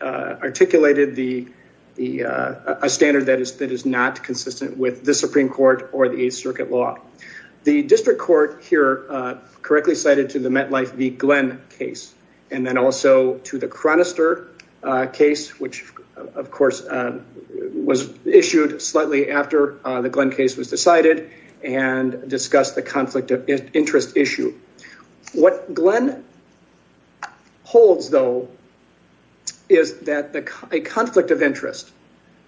articulated a standard that is not consistent with the Supreme Court or the Eighth Circuit law. The District Court here correctly cited to the MetLife v. Glenn case and then also to the Chronister case, which of course was issued slightly after the Glenn case was decided and discussed the conflict of interest issue. What Glenn holds though is that a conflict of interest,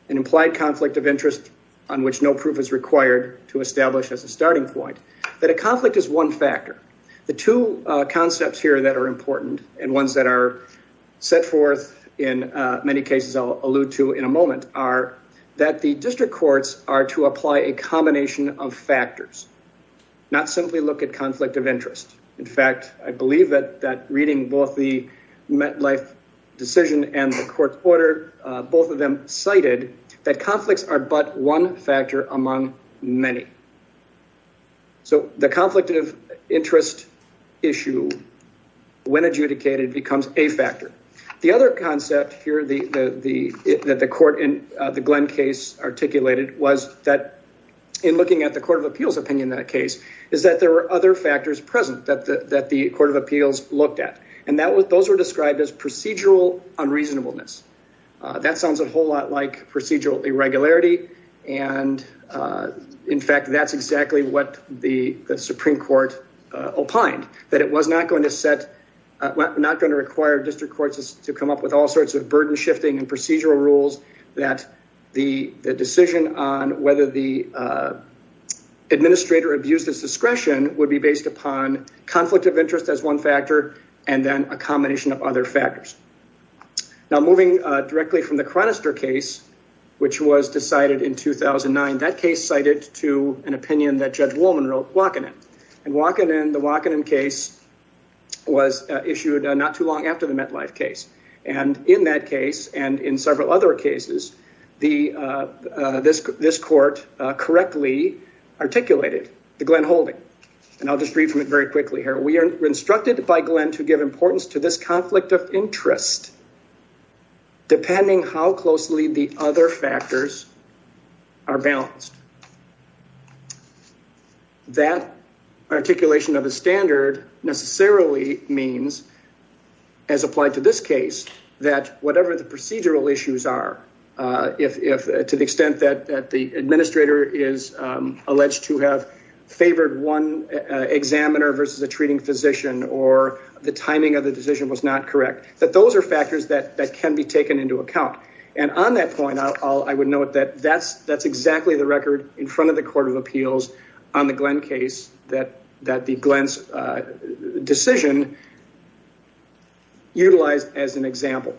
an implied conflict of interest on which no proof is required to establish as a starting point, that a conflict is one factor. The two concepts here that are important and ones that are set forth in many cases I'll allude to in a moment are that the District Courts are to apply a set of factors, not simply look at conflict of interest. In fact, I believe that that reading both the MetLife decision and the Court's order, both of them cited that conflicts are but one factor among many. So the conflict of interest issue when adjudicated becomes a factor. The concept here that the court in the Glenn case articulated was that in looking at the Court of Appeals opinion in that case, is that there were other factors present that the Court of Appeals looked at. Those were described as procedural unreasonableness. That sounds a whole lot like procedural irregularity. In fact, that's exactly what the Supreme Court opined, that it was not going to require District Courts to come up with all sorts of burden shifting and procedural rules that the decision on whether the administrator abused his discretion would be based upon conflict of interest as one factor and then a combination of other factors. Now moving directly from the Chronister case, which was decided in 2009, that case cited to an opinion that Judge Woolman wrote, Wakanen. The Wakanen case was issued not too long after the MetLife case. In that case and in several other cases, this court correctly articulated the Glenn holding. I'll just read from it very quickly here. We are instructed by Glenn to give importance to this conflict of interest depending how closely the other factors are balanced. That articulation of the standard necessarily means, as applied to this case, that whatever the procedural issues are, if to the extent that the administrator is alleged to have favored one examiner versus a treating physician or the timing of the decision was not correct, that those are factors that can be taken into account. And on that point, I would note that that's exactly the on the Glenn case that the Glenn's decision utilized as an example.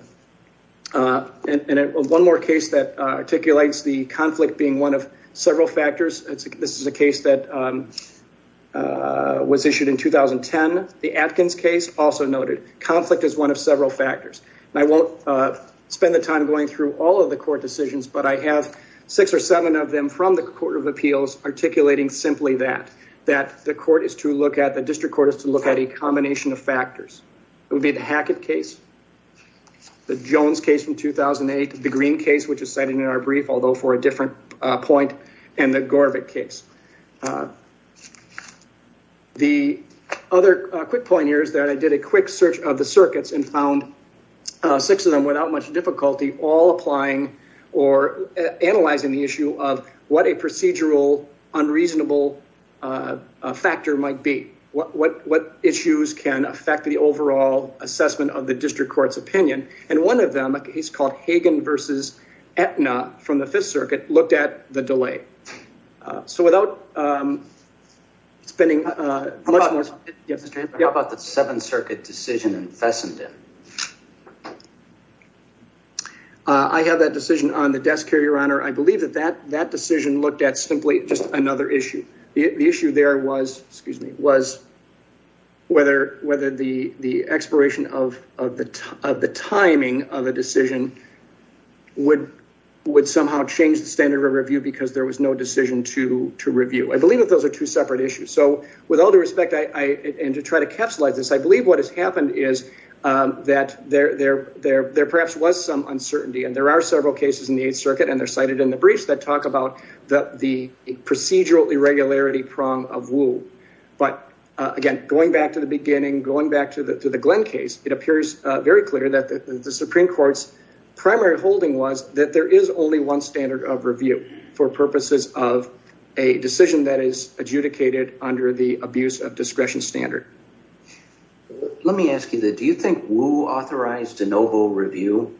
And one more case that articulates the conflict being one of several factors, this is a case that was issued in 2010, the Atkins case, also noted. Conflict is one of several factors. I won't spend the time going through all of the court decisions, but I have six or seven of them from the Court of Appeals articulating simply that, that the court is to look at, the district court is to look at a combination of factors. It would be the Hackett case, the Jones case from 2008, the Green case, which is cited in our brief, although for a different point, and the Gorbik case. The other quick point here is that I did a quick search of the circuits and found six of them without much difficulty, all applying or analyzing the issue of what a procedural unreasonable factor might be. What issues can affect the overall assessment of the district court's opinion? And one of them, a case called Hagen versus Aetna from the Fifth Circuit, looked at the delay. So without spending much more... How about the Seventh Circuit decision in Fessenden? I have that decision on the desk here, Your Honor. I believe that that decision looked at simply just another issue. The issue there was, excuse me, was whether the expiration of the timing of a decision would somehow change the standard of review because there was no decision to review. I believe that those are two separate issues. So with all due respect, and to try to capsulize this, I believe what has happened is that there perhaps was some uncertainty, and there are several cases in the Eighth Circuit, and they're cited in the briefs, that talk about the procedural irregularity prong of Wu. But again, going back to the beginning, going back to the Glenn case, it appears very clear that the Supreme Court's primary holding was that there is only one for purposes of a decision that is adjudicated under the abuse of discretion standard. Let me ask you that. Do you think Wu authorized de novo review?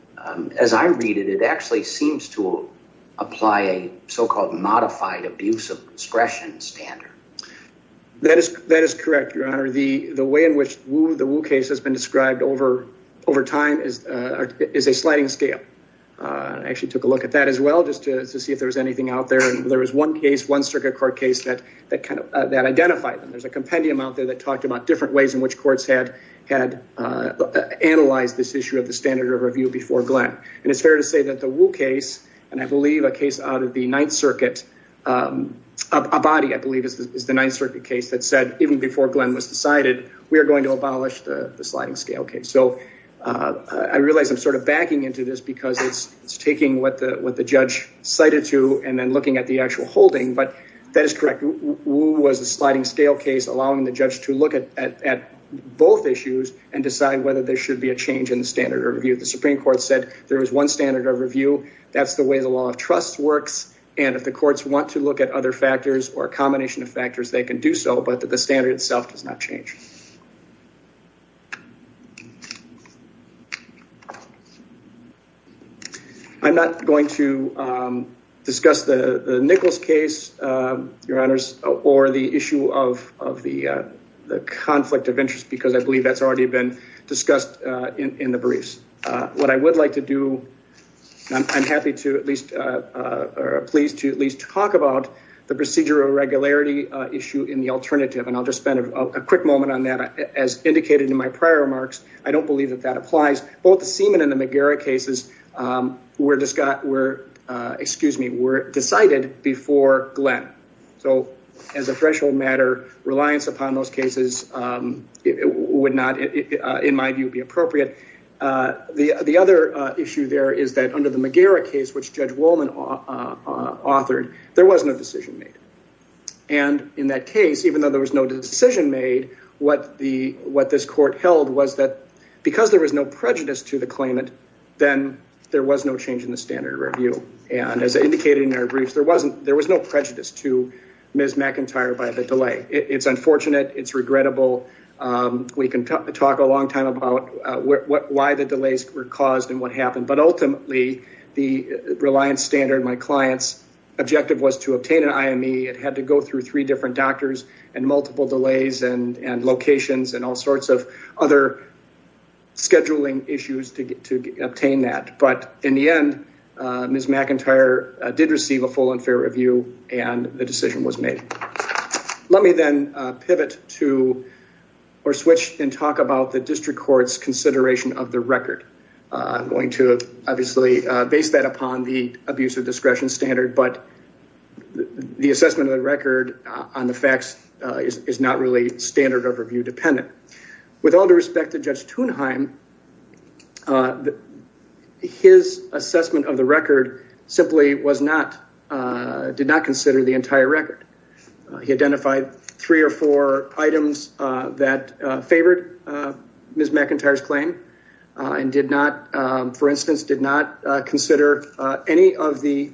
As I read it, it actually seems to apply a so-called modified abuse of discretion standard. That is correct, Your Honor. The way in which the Wu case has been described over time is a sliding scale. I actually took a look at that as well, just to see if there was anything out there, and there was one case, one circuit court case that identified them. There's a compendium out there that talked about different ways in which courts had analyzed this issue of the standard of review before Glenn. And it's fair to say that the Wu case, and I believe a case out of the Ninth Circuit, Abadi, I believe, is the Ninth Circuit case that said, even before Glenn was decided, we are going to abolish the sliding scale case. So I realize I'm sort of backing into this because it's taking what the judge cited to and then looking at the actual holding, but that is correct. Wu was a sliding scale case, allowing the judge to look at both issues and decide whether there should be a change in the standard of review. The Supreme Court said there was one standard of review. That's the way the law of trust works. And if the courts want to look at other factors or a combination of factors, they can do so, but the standard itself does not change. I'm not going to discuss the Nichols case, your honors, or the issue of the conflict of interest because I believe that's already been discussed in the briefs. What I would like to do, I'm happy to at least, or pleased to at least talk about the procedure of regularity issue in the alternative. And I'll just spend a quick moment on that. As indicated in my prior remarks, I don't believe that that applies. Both the Seaman and the McGarrett cases were decided before Glenn. So as a threshold matter, reliance upon those cases would not, in my view, be appropriate. The other issue there is that under the McGarrett case, which Judge Wolman authored, there was no decision made. And in that case, even though there was no decision made, what this court held was that because there was no prejudice to the claimant, then there was no change in the standard of review. And as indicated in our briefs, there was no prejudice to Ms. McIntyre by the delay. It's unfortunate. It's regrettable. We can talk a long time about why the delays were caused and what happened. But ultimately, the reliance standard, my client's objective was to obtain an IME. It had to go through three different doctors and multiple delays and locations and all sorts of other scheduling issues to obtain that. But in the end, Ms. McIntyre did receive a full and fair review and the decision was made. Let me then pivot to or switch and talk about the district court's consideration of the record. I'm going to obviously base that upon the abuse of discretion standard, but the assessment of the record on the facts is not really standard of review dependent. With all due respect to Judge Thunheim, his assessment of the record simply did not consider the entire record. He identified three or four items that favored Ms. McIntyre's claim and did not, for instance, did not consider any of the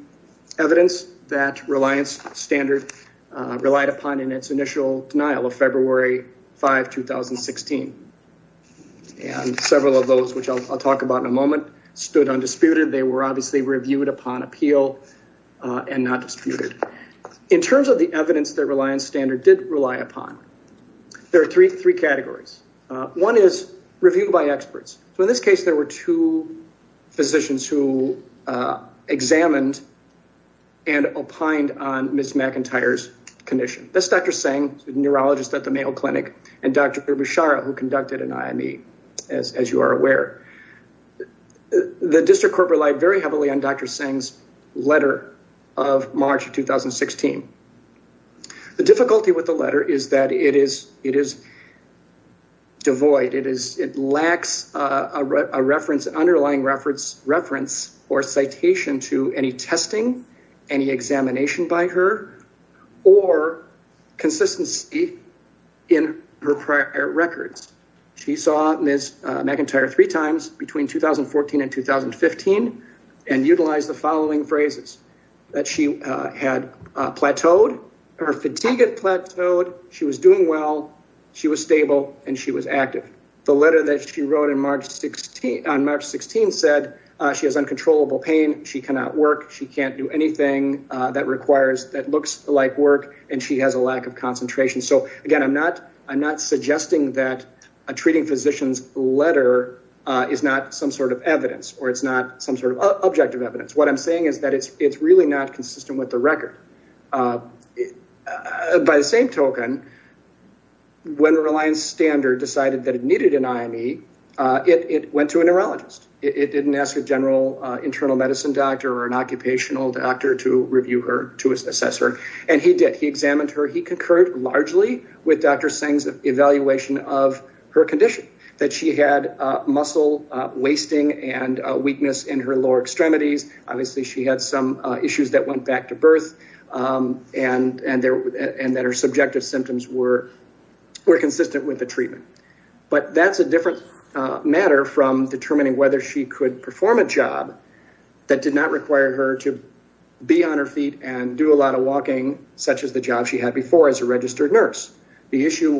evidence that reliance standard relied upon in its initial denial of February 5, 2016. And several of those, which I'll talk about in a moment, stood undisputed. They were obviously reviewed upon appeal and not disputed. In terms of the evidence that reliance standard did rely upon, there are three categories. One is review by experts. So in this case, there were two physicians who examined and opined on Ms. McIntyre's condition. That's Dr. Tseng, a neurologist at the Mayo Clinic, and Dr. Bishara, who conducted an IME, as you are aware. The district court relied very heavily on Dr. Tseng's of March of 2016. The difficulty with the letter is that it is devoid. It lacks a reference, underlying reference or citation to any testing, any examination by her, or consistency in her prior records. She saw Ms. McIntyre three times between 2014 and 2015 and utilized the following phrases, that she had plateaued, her fatigue had plateaued, she was doing well, she was stable, and she was active. The letter that she wrote on March 16 said she has uncontrollable pain, she cannot work, she can't do anything that requires, that looks like work, and she has a lack of concentration. So again, I'm not suggesting that a treating physician's letter is not some sort of evidence, or it's not some sort of objective evidence. What I'm saying is that it's really not consistent with the record. By the same token, when Reliance Standard decided that it needed an IME, it went to a neurologist. It didn't ask a general internal medicine doctor or an occupational doctor to review her, to assess her, and he did. He examined her. He concurred largely with Dr. Singh's evaluation of her condition, that she had muscle wasting and weakness in her lower extremities. Obviously, she had some issues that went back to birth, and that her subjective symptoms were consistent with the treatment. But that's a different matter from determining whether she could perform a job that did not require her to be on her feet and do a lot of walking, such as the job she had before as a registered nurse. The issue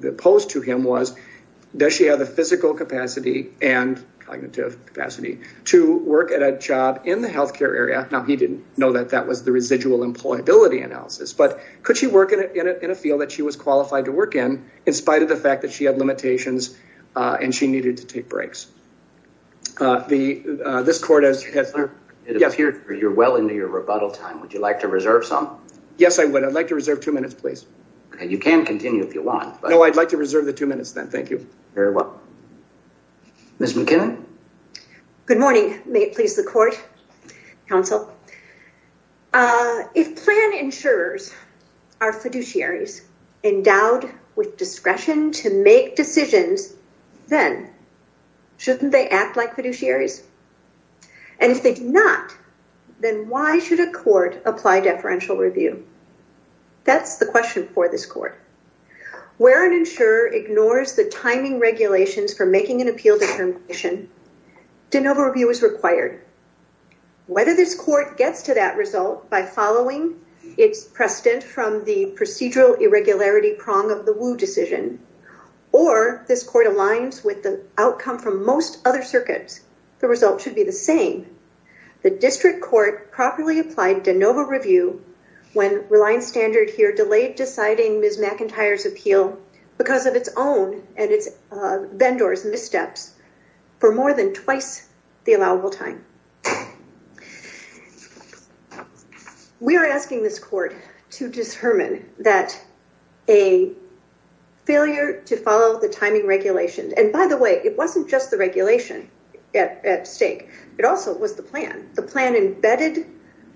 that posed to him was, does she have the physical capacity and cognitive capacity to work at a job in the healthcare area? Now, he didn't know that that was the residual employability analysis, but could she work in a field that she was qualified to work in, in spite of the fact that had limitations and she needed to take breaks. This court has... You're well into your rebuttal time. Would you like to reserve some? Yes, I would. I'd like to reserve two minutes, please. And you can continue if you want. No, I'd like to reserve the two minutes then. Thank you. Very well. Ms. McKinnon. Good morning. May it please the court, counsel. If plan insurers are fiduciaries endowed with decisions, then shouldn't they act like fiduciaries? And if they do not, then why should a court apply deferential review? That's the question for this court. Where an insurer ignores the timing regulations for making an appeal determination, de novo review is required. Whether this court gets to that result by following its precedent from the procedural irregularity prong of the Wu decision, or this court aligns with the outcome from most other circuits, the result should be the same. The district court properly applied de novo review when Reliance Standard here delayed deciding Ms. McIntyre's appeal because of its own and its vendor's missteps for more than twice the allowable time. We are asking this court to determine that a failure to follow the timing regulations, and by the way, it wasn't just the regulation at stake. It also was the plan. The plan embedded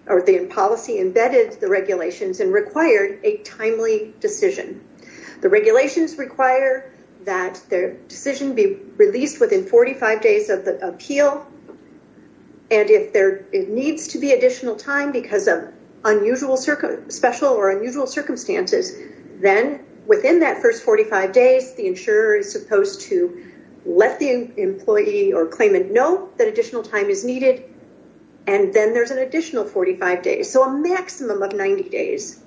or the policy embedded the regulations and required a timely decision. The regulations require that their decision be released within 45 days of the appeal. And if there needs to be additional time because of unusual special or unusual circumstances, then within that first 45 days, the insurer is supposed to let the employee or claimant know that additional time is needed. And then there's an additional 45 days, so a maximum of 90 days.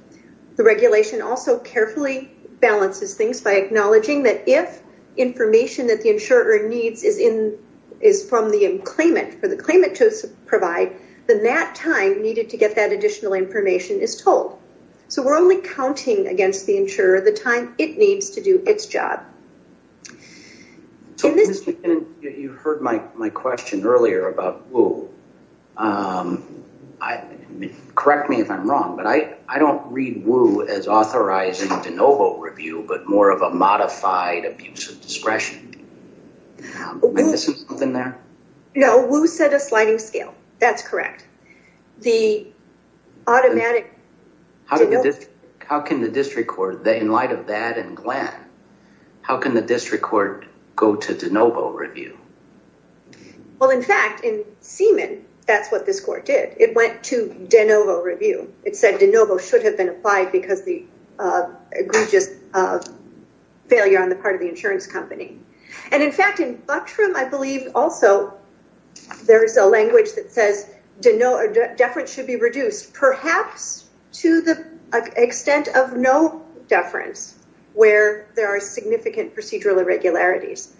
The regulation also carefully balances things by acknowledging that if information that the insurer needs is in is from the claimant for the claimant to provide, then that time needed to get that additional information is told. So we're only counting against the insurer the time it needs to do its job. You heard my question earlier about Wu. Correct me if I'm wrong, but I don't read Wu as authorizing de novo review, but more of a modified abuse of discretion. No, Wu set a sliding scale. That's correct. The automatic... How can the district court, in light of that and Glenn, how can the district court go to de novo review? Well, in fact, in Seaman, that's what this court did. It went to de novo review. It said de novo should have been applied because the egregious failure on the part of the insurance company. And in fact, in Buckstrom, I believe also there is a language that says de novo should be reduced, perhaps to the extent of no deference, where there are significant procedural irregularities.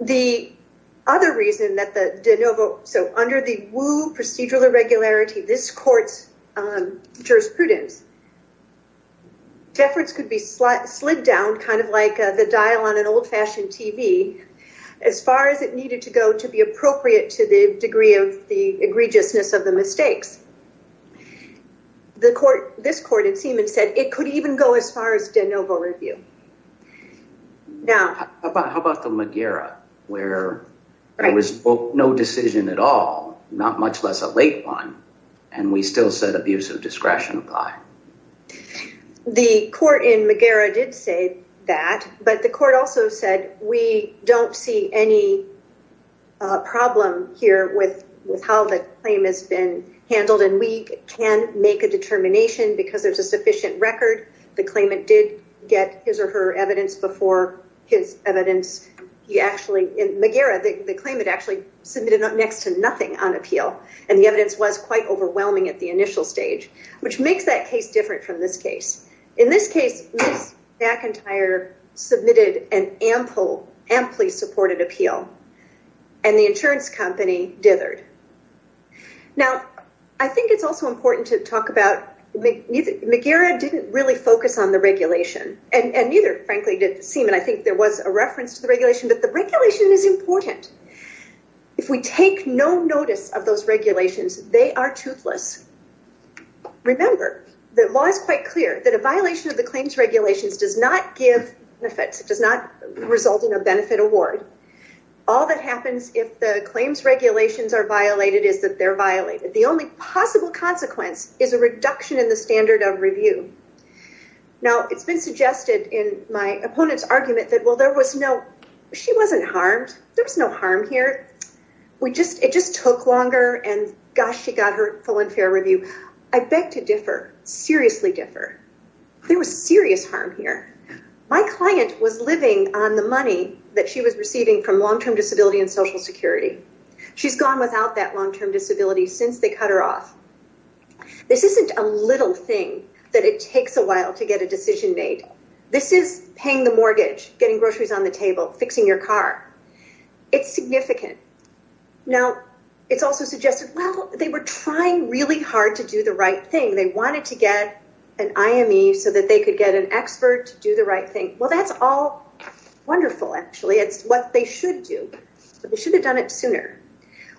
The other reason that the de novo... So under the Wu procedural irregularity, this court's prudence. Deference could be slid down kind of like the dial on an old-fashioned TV as far as it needed to go to be appropriate to the degree of the egregiousness of the mistakes. This court in Seaman said it could even go as far as de novo review. Now, how about the McGarrett where there was no decision at all, not much less a late one, and we still said abuse of discretion apply? The court in McGarrett did say that, but the court also said we don't see any problem here with how the claim has been handled and we can make a determination because there's a sufficient record. The claimant did get his or her evidence before his evidence. McGarrett, the claimant actually submitted next to nothing on appeal and the overwhelming at the initial stage, which makes that case different from this case. In this case, McIntyre submitted an amply supported appeal and the insurance company dithered. Now, I think it's also important to talk about McGarrett didn't really focus on the regulation and neither, frankly, did Seaman. I think there was a reference to the regulation, but the regulation is important. If we take no notice of those regulations, they are toothless. Remember, the law is quite clear that a violation of the claims regulations does not give benefits, does not result in a benefit award. All that happens if the claims regulations are violated is that they're violated. The only possible consequence is a reduction in the standard of review. Now, it's been suggested in my opponent's argument that, well, there was no she wasn't harmed. There was no harm here. It just took longer and gosh, she got her full and fair review. I beg to differ, seriously differ. There was serious harm here. My client was living on the money that she was receiving from long-term disability and social security. She's gone without that long-term disability since they cut her off. This isn't a little thing that it takes a while to get a decision made. This is paying the mortgage, getting groceries on the table, fixing your car. It's significant. Now, it's also suggested, well, they were trying really hard to do the right thing. They wanted to get an IME so that they could get an expert to do the right thing. Well, that's all wonderful, actually. It's what they should do, but they should have done it sooner.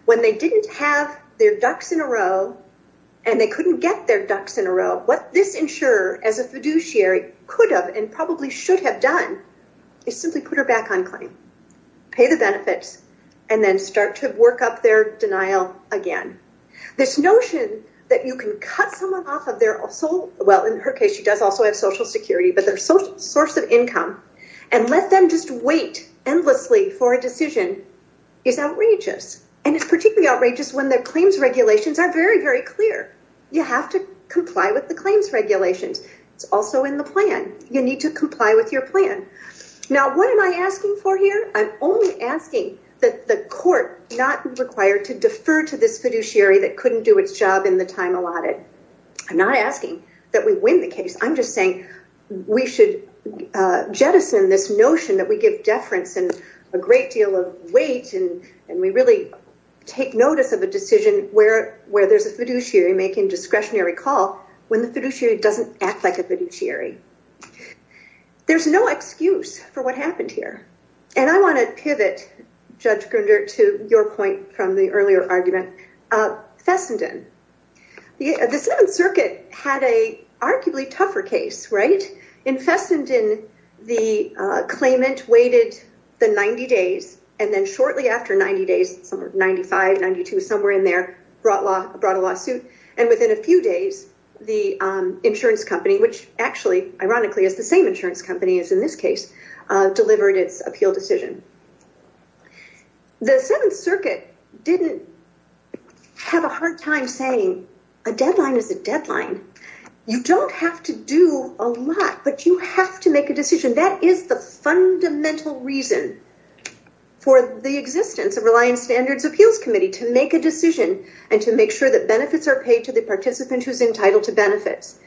When they didn't have their ducks in a row, and they couldn't get their ducks in a row, what this insurer as a fiduciary could have and probably should have done is simply put her back on claim, pay the benefits, and then start to work up their denial again. This notion that you can cut someone off of their, well, in her case, she does also have social security, but their source of income, and let them just wait endlessly for a decision is outrageous. And it's particularly outrageous when their claims regulations are very, very clear. You have to comply with the claims regulations. It's also in the plan. You need to comply with your plan. Now, what am I asking for here? I'm only asking that the court not be required to defer to this fiduciary that couldn't do its job in the time allotted. I'm not asking that we win the case. I'm just saying we should jettison this notion that we give deference and a great deal of weight, and we really take notice of a decision where there's a fiduciary making discretionary call when the fiduciary doesn't act like a fiduciary. There's no excuse for what happened here. And I want to pivot, Judge Grunder, to your point from the earlier argument, Fessenden. The Seventh Circuit had a arguably tougher case, right? In Fessenden, the claimant waited the 90 days, and then shortly after 90 days, somewhere 95, somewhere in there, brought a lawsuit. And within a few days, the insurance company, which actually, ironically, is the same insurance company as in this case, delivered its appeal decision. The Seventh Circuit didn't have a hard time saying a deadline is a deadline. You don't have to do a lot, but you have to make a decision. That is the fundamental reason for the existence of Reliance Standards Appeals Committee, to make a decision and to make sure that benefits are paid to the participant who's entitled to benefits.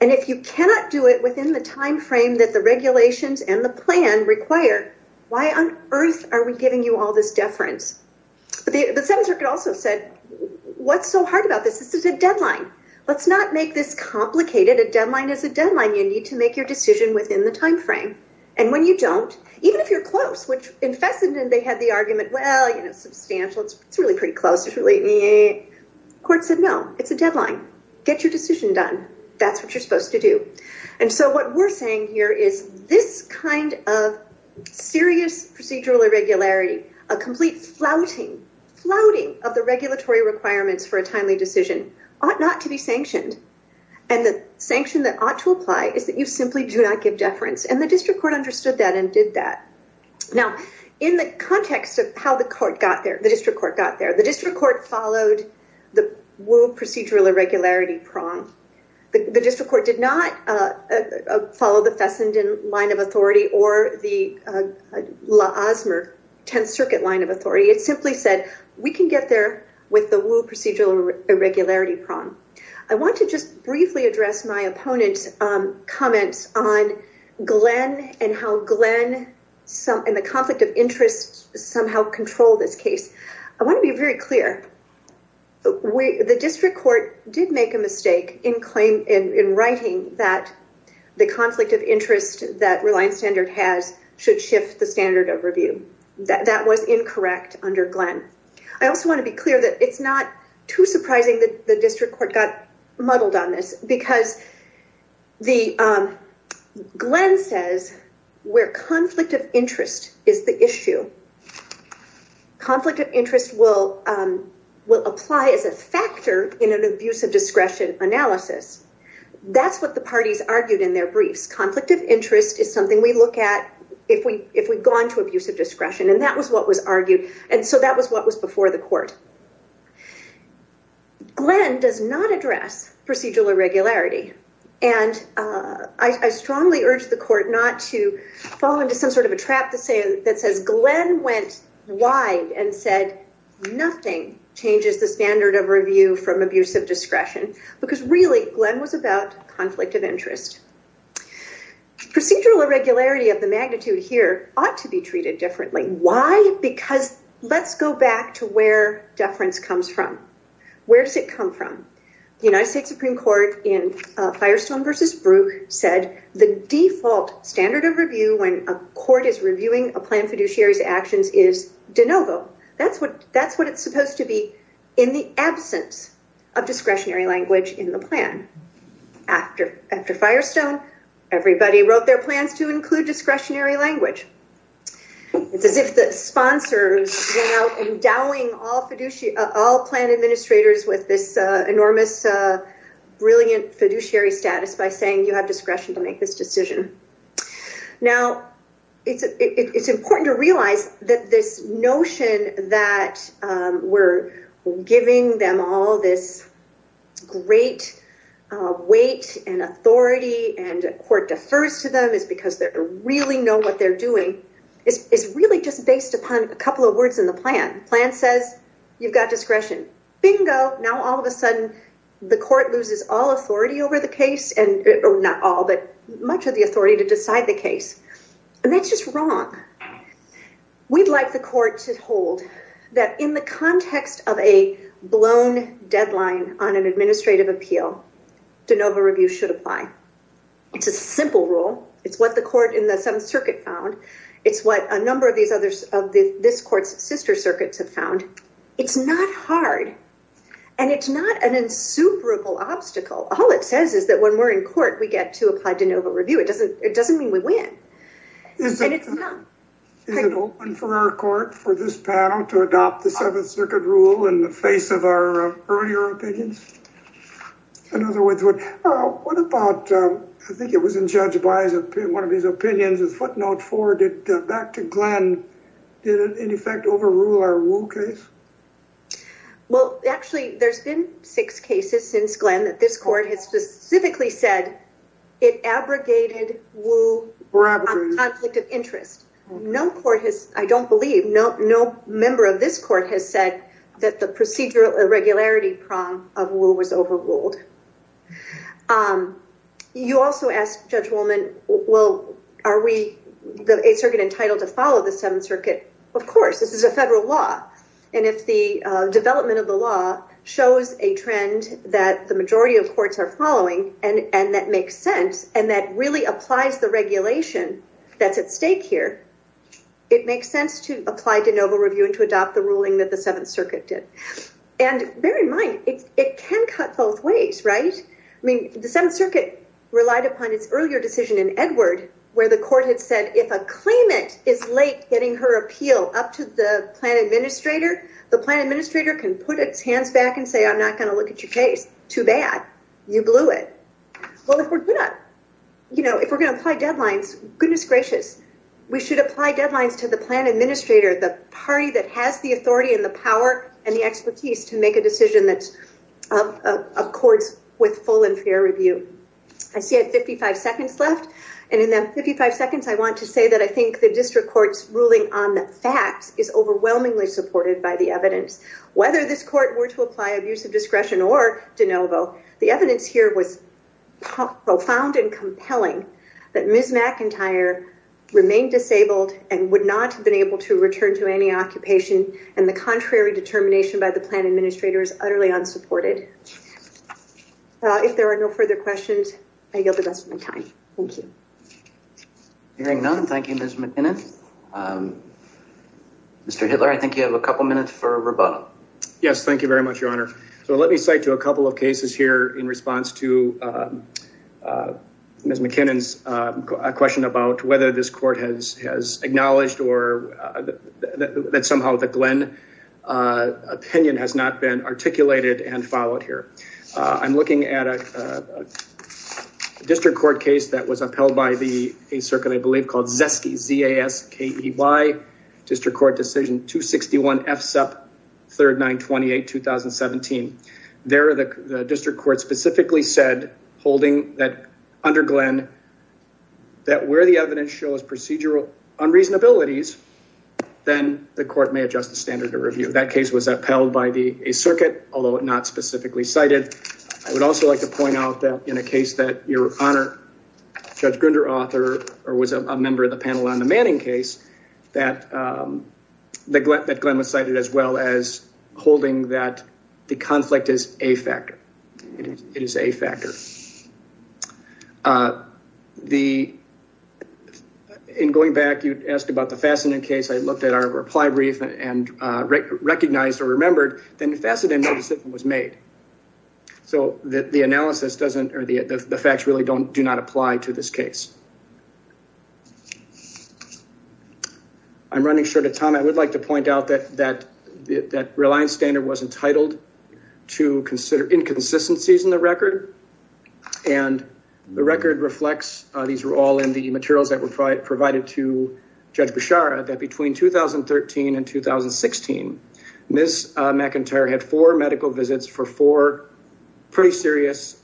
And if you cannot do it within the timeframe that the regulations and the plan require, why on earth are we giving you all this deference? The Seventh Circuit also said, what's so hard about this? This is a deadline. Let's not make this complicated. A deadline is a deadline. You need to make your decision within the timeframe. And when you don't, even if you're close, which in Fessenden, they had the argument, well, you know, substantial, it's really pretty close, it's really... Court said, no, it's a deadline. Get your decision done. That's what you're supposed to do. And so what we're saying here is this kind of serious procedural irregularity, a complete flouting, flouting of the regulatory requirements for a timely decision, ought not to be sanctioned. And the district court understood that and did that. Now, in the context of how the court got there, the district court got there, the district court followed the Wu procedural irregularity prong. The district court did not follow the Fessenden line of authority or the La Asmer Tenth Circuit line of authority. It simply said, we can get there with the Wu procedural irregularity prong. I want to just briefly address my opponent's comments on Glenn and how Glenn and the conflict of interest somehow control this case. I want to be very clear. The district court did make a mistake in writing that the conflict of interest that Reliance Standard has should shift the standard of review. That was incorrect under Glenn. I also want to be clear that it's not too surprising that the district court got muddled on this because Glenn says where conflict of interest is the issue. Conflict of interest will apply as a factor in an abuse of discretion analysis. That's what the parties argued in their briefs. Conflict of interest is something we look at if we if we've gone to abuse of discretion, and that was what was argued, and so that was what was before the court. Glenn does not address procedural irregularity, and I strongly urge the court not to fall into some sort of a trap that says Glenn went wide and said nothing changes the standard of review from abuse of discretion because really Glenn was about conflict of interest. The procedural irregularity of the magnitude here ought to be treated differently. Why? Because let's go back to where deference comes from. Where does it come from? The United States Supreme Court in Firestone v. Brooke said the default standard of review when a court is reviewing a plan fiduciary's actions is de novo. That's what that's what it's supposed to be in the absence of discretionary language in the plan. After Firestone, everybody wrote their plans to include discretionary language. It's as if the sponsors went out endowing all plan administrators with this enormous brilliant fiduciary status by saying you have discretion to make this decision. Now it's it's important to realize that this notion that we're giving them all this great weight and authority and a court defers to them is because they really know what they're doing is really just based upon a couple of words in the plan. Plan says you've got discretion. Bingo! Now all of a sudden the court loses all authority over the case and not all but much of the authority to decide the case. And that's just wrong. We'd like the court to hold that in the context of a blown deadline on an administrative appeal, de novo review should apply. It's a simple rule. It's what the court in the Seventh Circuit found. It's what a number of these others of this court's sister circuits have found. It's not hard and it's not an insuperable obstacle. All it says is that when we're in court we get to apply de novo review. It doesn't it doesn't mean we win. And it's not. Is it open for our court for this panel to adopt the Seventh Circuit rule in the face of our earlier opinions? In other words, what about, I think it was in Judge Baez, one of his opinions is footnote four did back to Glenn did it in effect overrule our Well, actually, there's been six cases since Glenn that this court has specifically said it abrogated Wu on conflict of interest. No court has, I don't believe, no member of this court has said that the procedural irregularity prong of Wu was overruled. You also asked Judge Woolman, well, are we the Eighth Circuit entitled to follow the Seventh Circuit? Of course, this is federal law. And if the development of the law shows a trend that the majority of courts are following and that makes sense and that really applies the regulation that's at stake here, it makes sense to apply de novo review and to adopt the ruling that the Seventh Circuit did. And bear in mind, it can cut both ways, right? I mean, the Seventh Circuit relied upon its earlier decision in Edward, where the court had said if a claimant is late getting her appeal up to the plan administrator, the plan administrator can put its hands back and say, I'm not going to look at your case too bad. You blew it. Well, if we're good at, you know, if we're going to apply deadlines, goodness gracious, we should apply deadlines to the plan administrator, the party that has the authority and the power and the expertise to make a decision that's of courts with full and fair review. I see I have 55 seconds left. And in that 55 seconds, I want to say that I think the district court's ruling on the facts is overwhelmingly supported by the evidence. Whether this court were to apply abuse of discretion or de novo, the evidence here was profound and compelling that Ms. McIntyre remained disabled and would not have been able to return to any occupation and the contrary determination by the plan administrator is utterly unsupported. If there are no further questions, I yield the rest of my time. Thank you. Hearing none, thank you, Ms. McKinnon. Mr. Hitler, I think you have a couple minutes for rebuttal. Yes, thank you very much, your honor. So let me cite to a couple of cases here in response to Ms. McKinnon's question about whether this court has acknowledged or that somehow the Glenn opinion has not been articulated and followed here. I'm looking at a district court case that was upheld by the a circuit I believe called Zesky district court decision 261 FSEP 3928 2017. There the district court specifically said holding that under Glenn that where the evidence shows procedural unreasonabilities, then the court may adjust the standard of review. That case was upheld by the circuit, although it not specifically cited. I would also like to point out that in a Judge Grinder author or was a member of the panel on the Manning case that Glenn cited as well as holding that the conflict is a factor. It is a factor. In going back, you asked about the Fassenden case. I looked at our reply brief and recognized or remembered that Fassenden was made. So the analysis doesn't or the facts really don't do not apply to this case. I'm running short of time. I would like to point out that Reliance Standard was entitled to consider inconsistencies in the record. And the record reflects these were all in the materials that were provided to Judge Beshara that between 2013 and 2016, Ms. McIntyre had four medical visits for four pretty serious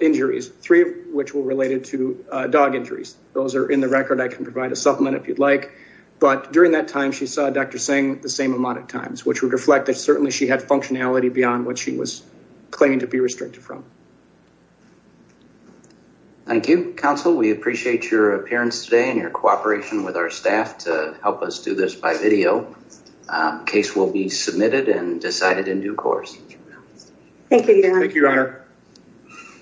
injuries, three of which were related to dog injuries. Those are in the record. I can provide a supplement if you'd like. But during that time, she saw Dr. Singh the same amount of times, which would reflect that certainly she had functionality beyond what she was claiming to be restricted from. Thank you, counsel. We appreciate your appearance today and your cooperation with our staff to help us do this by video. Case will be closed. Thank you. Thank you, Your Honor.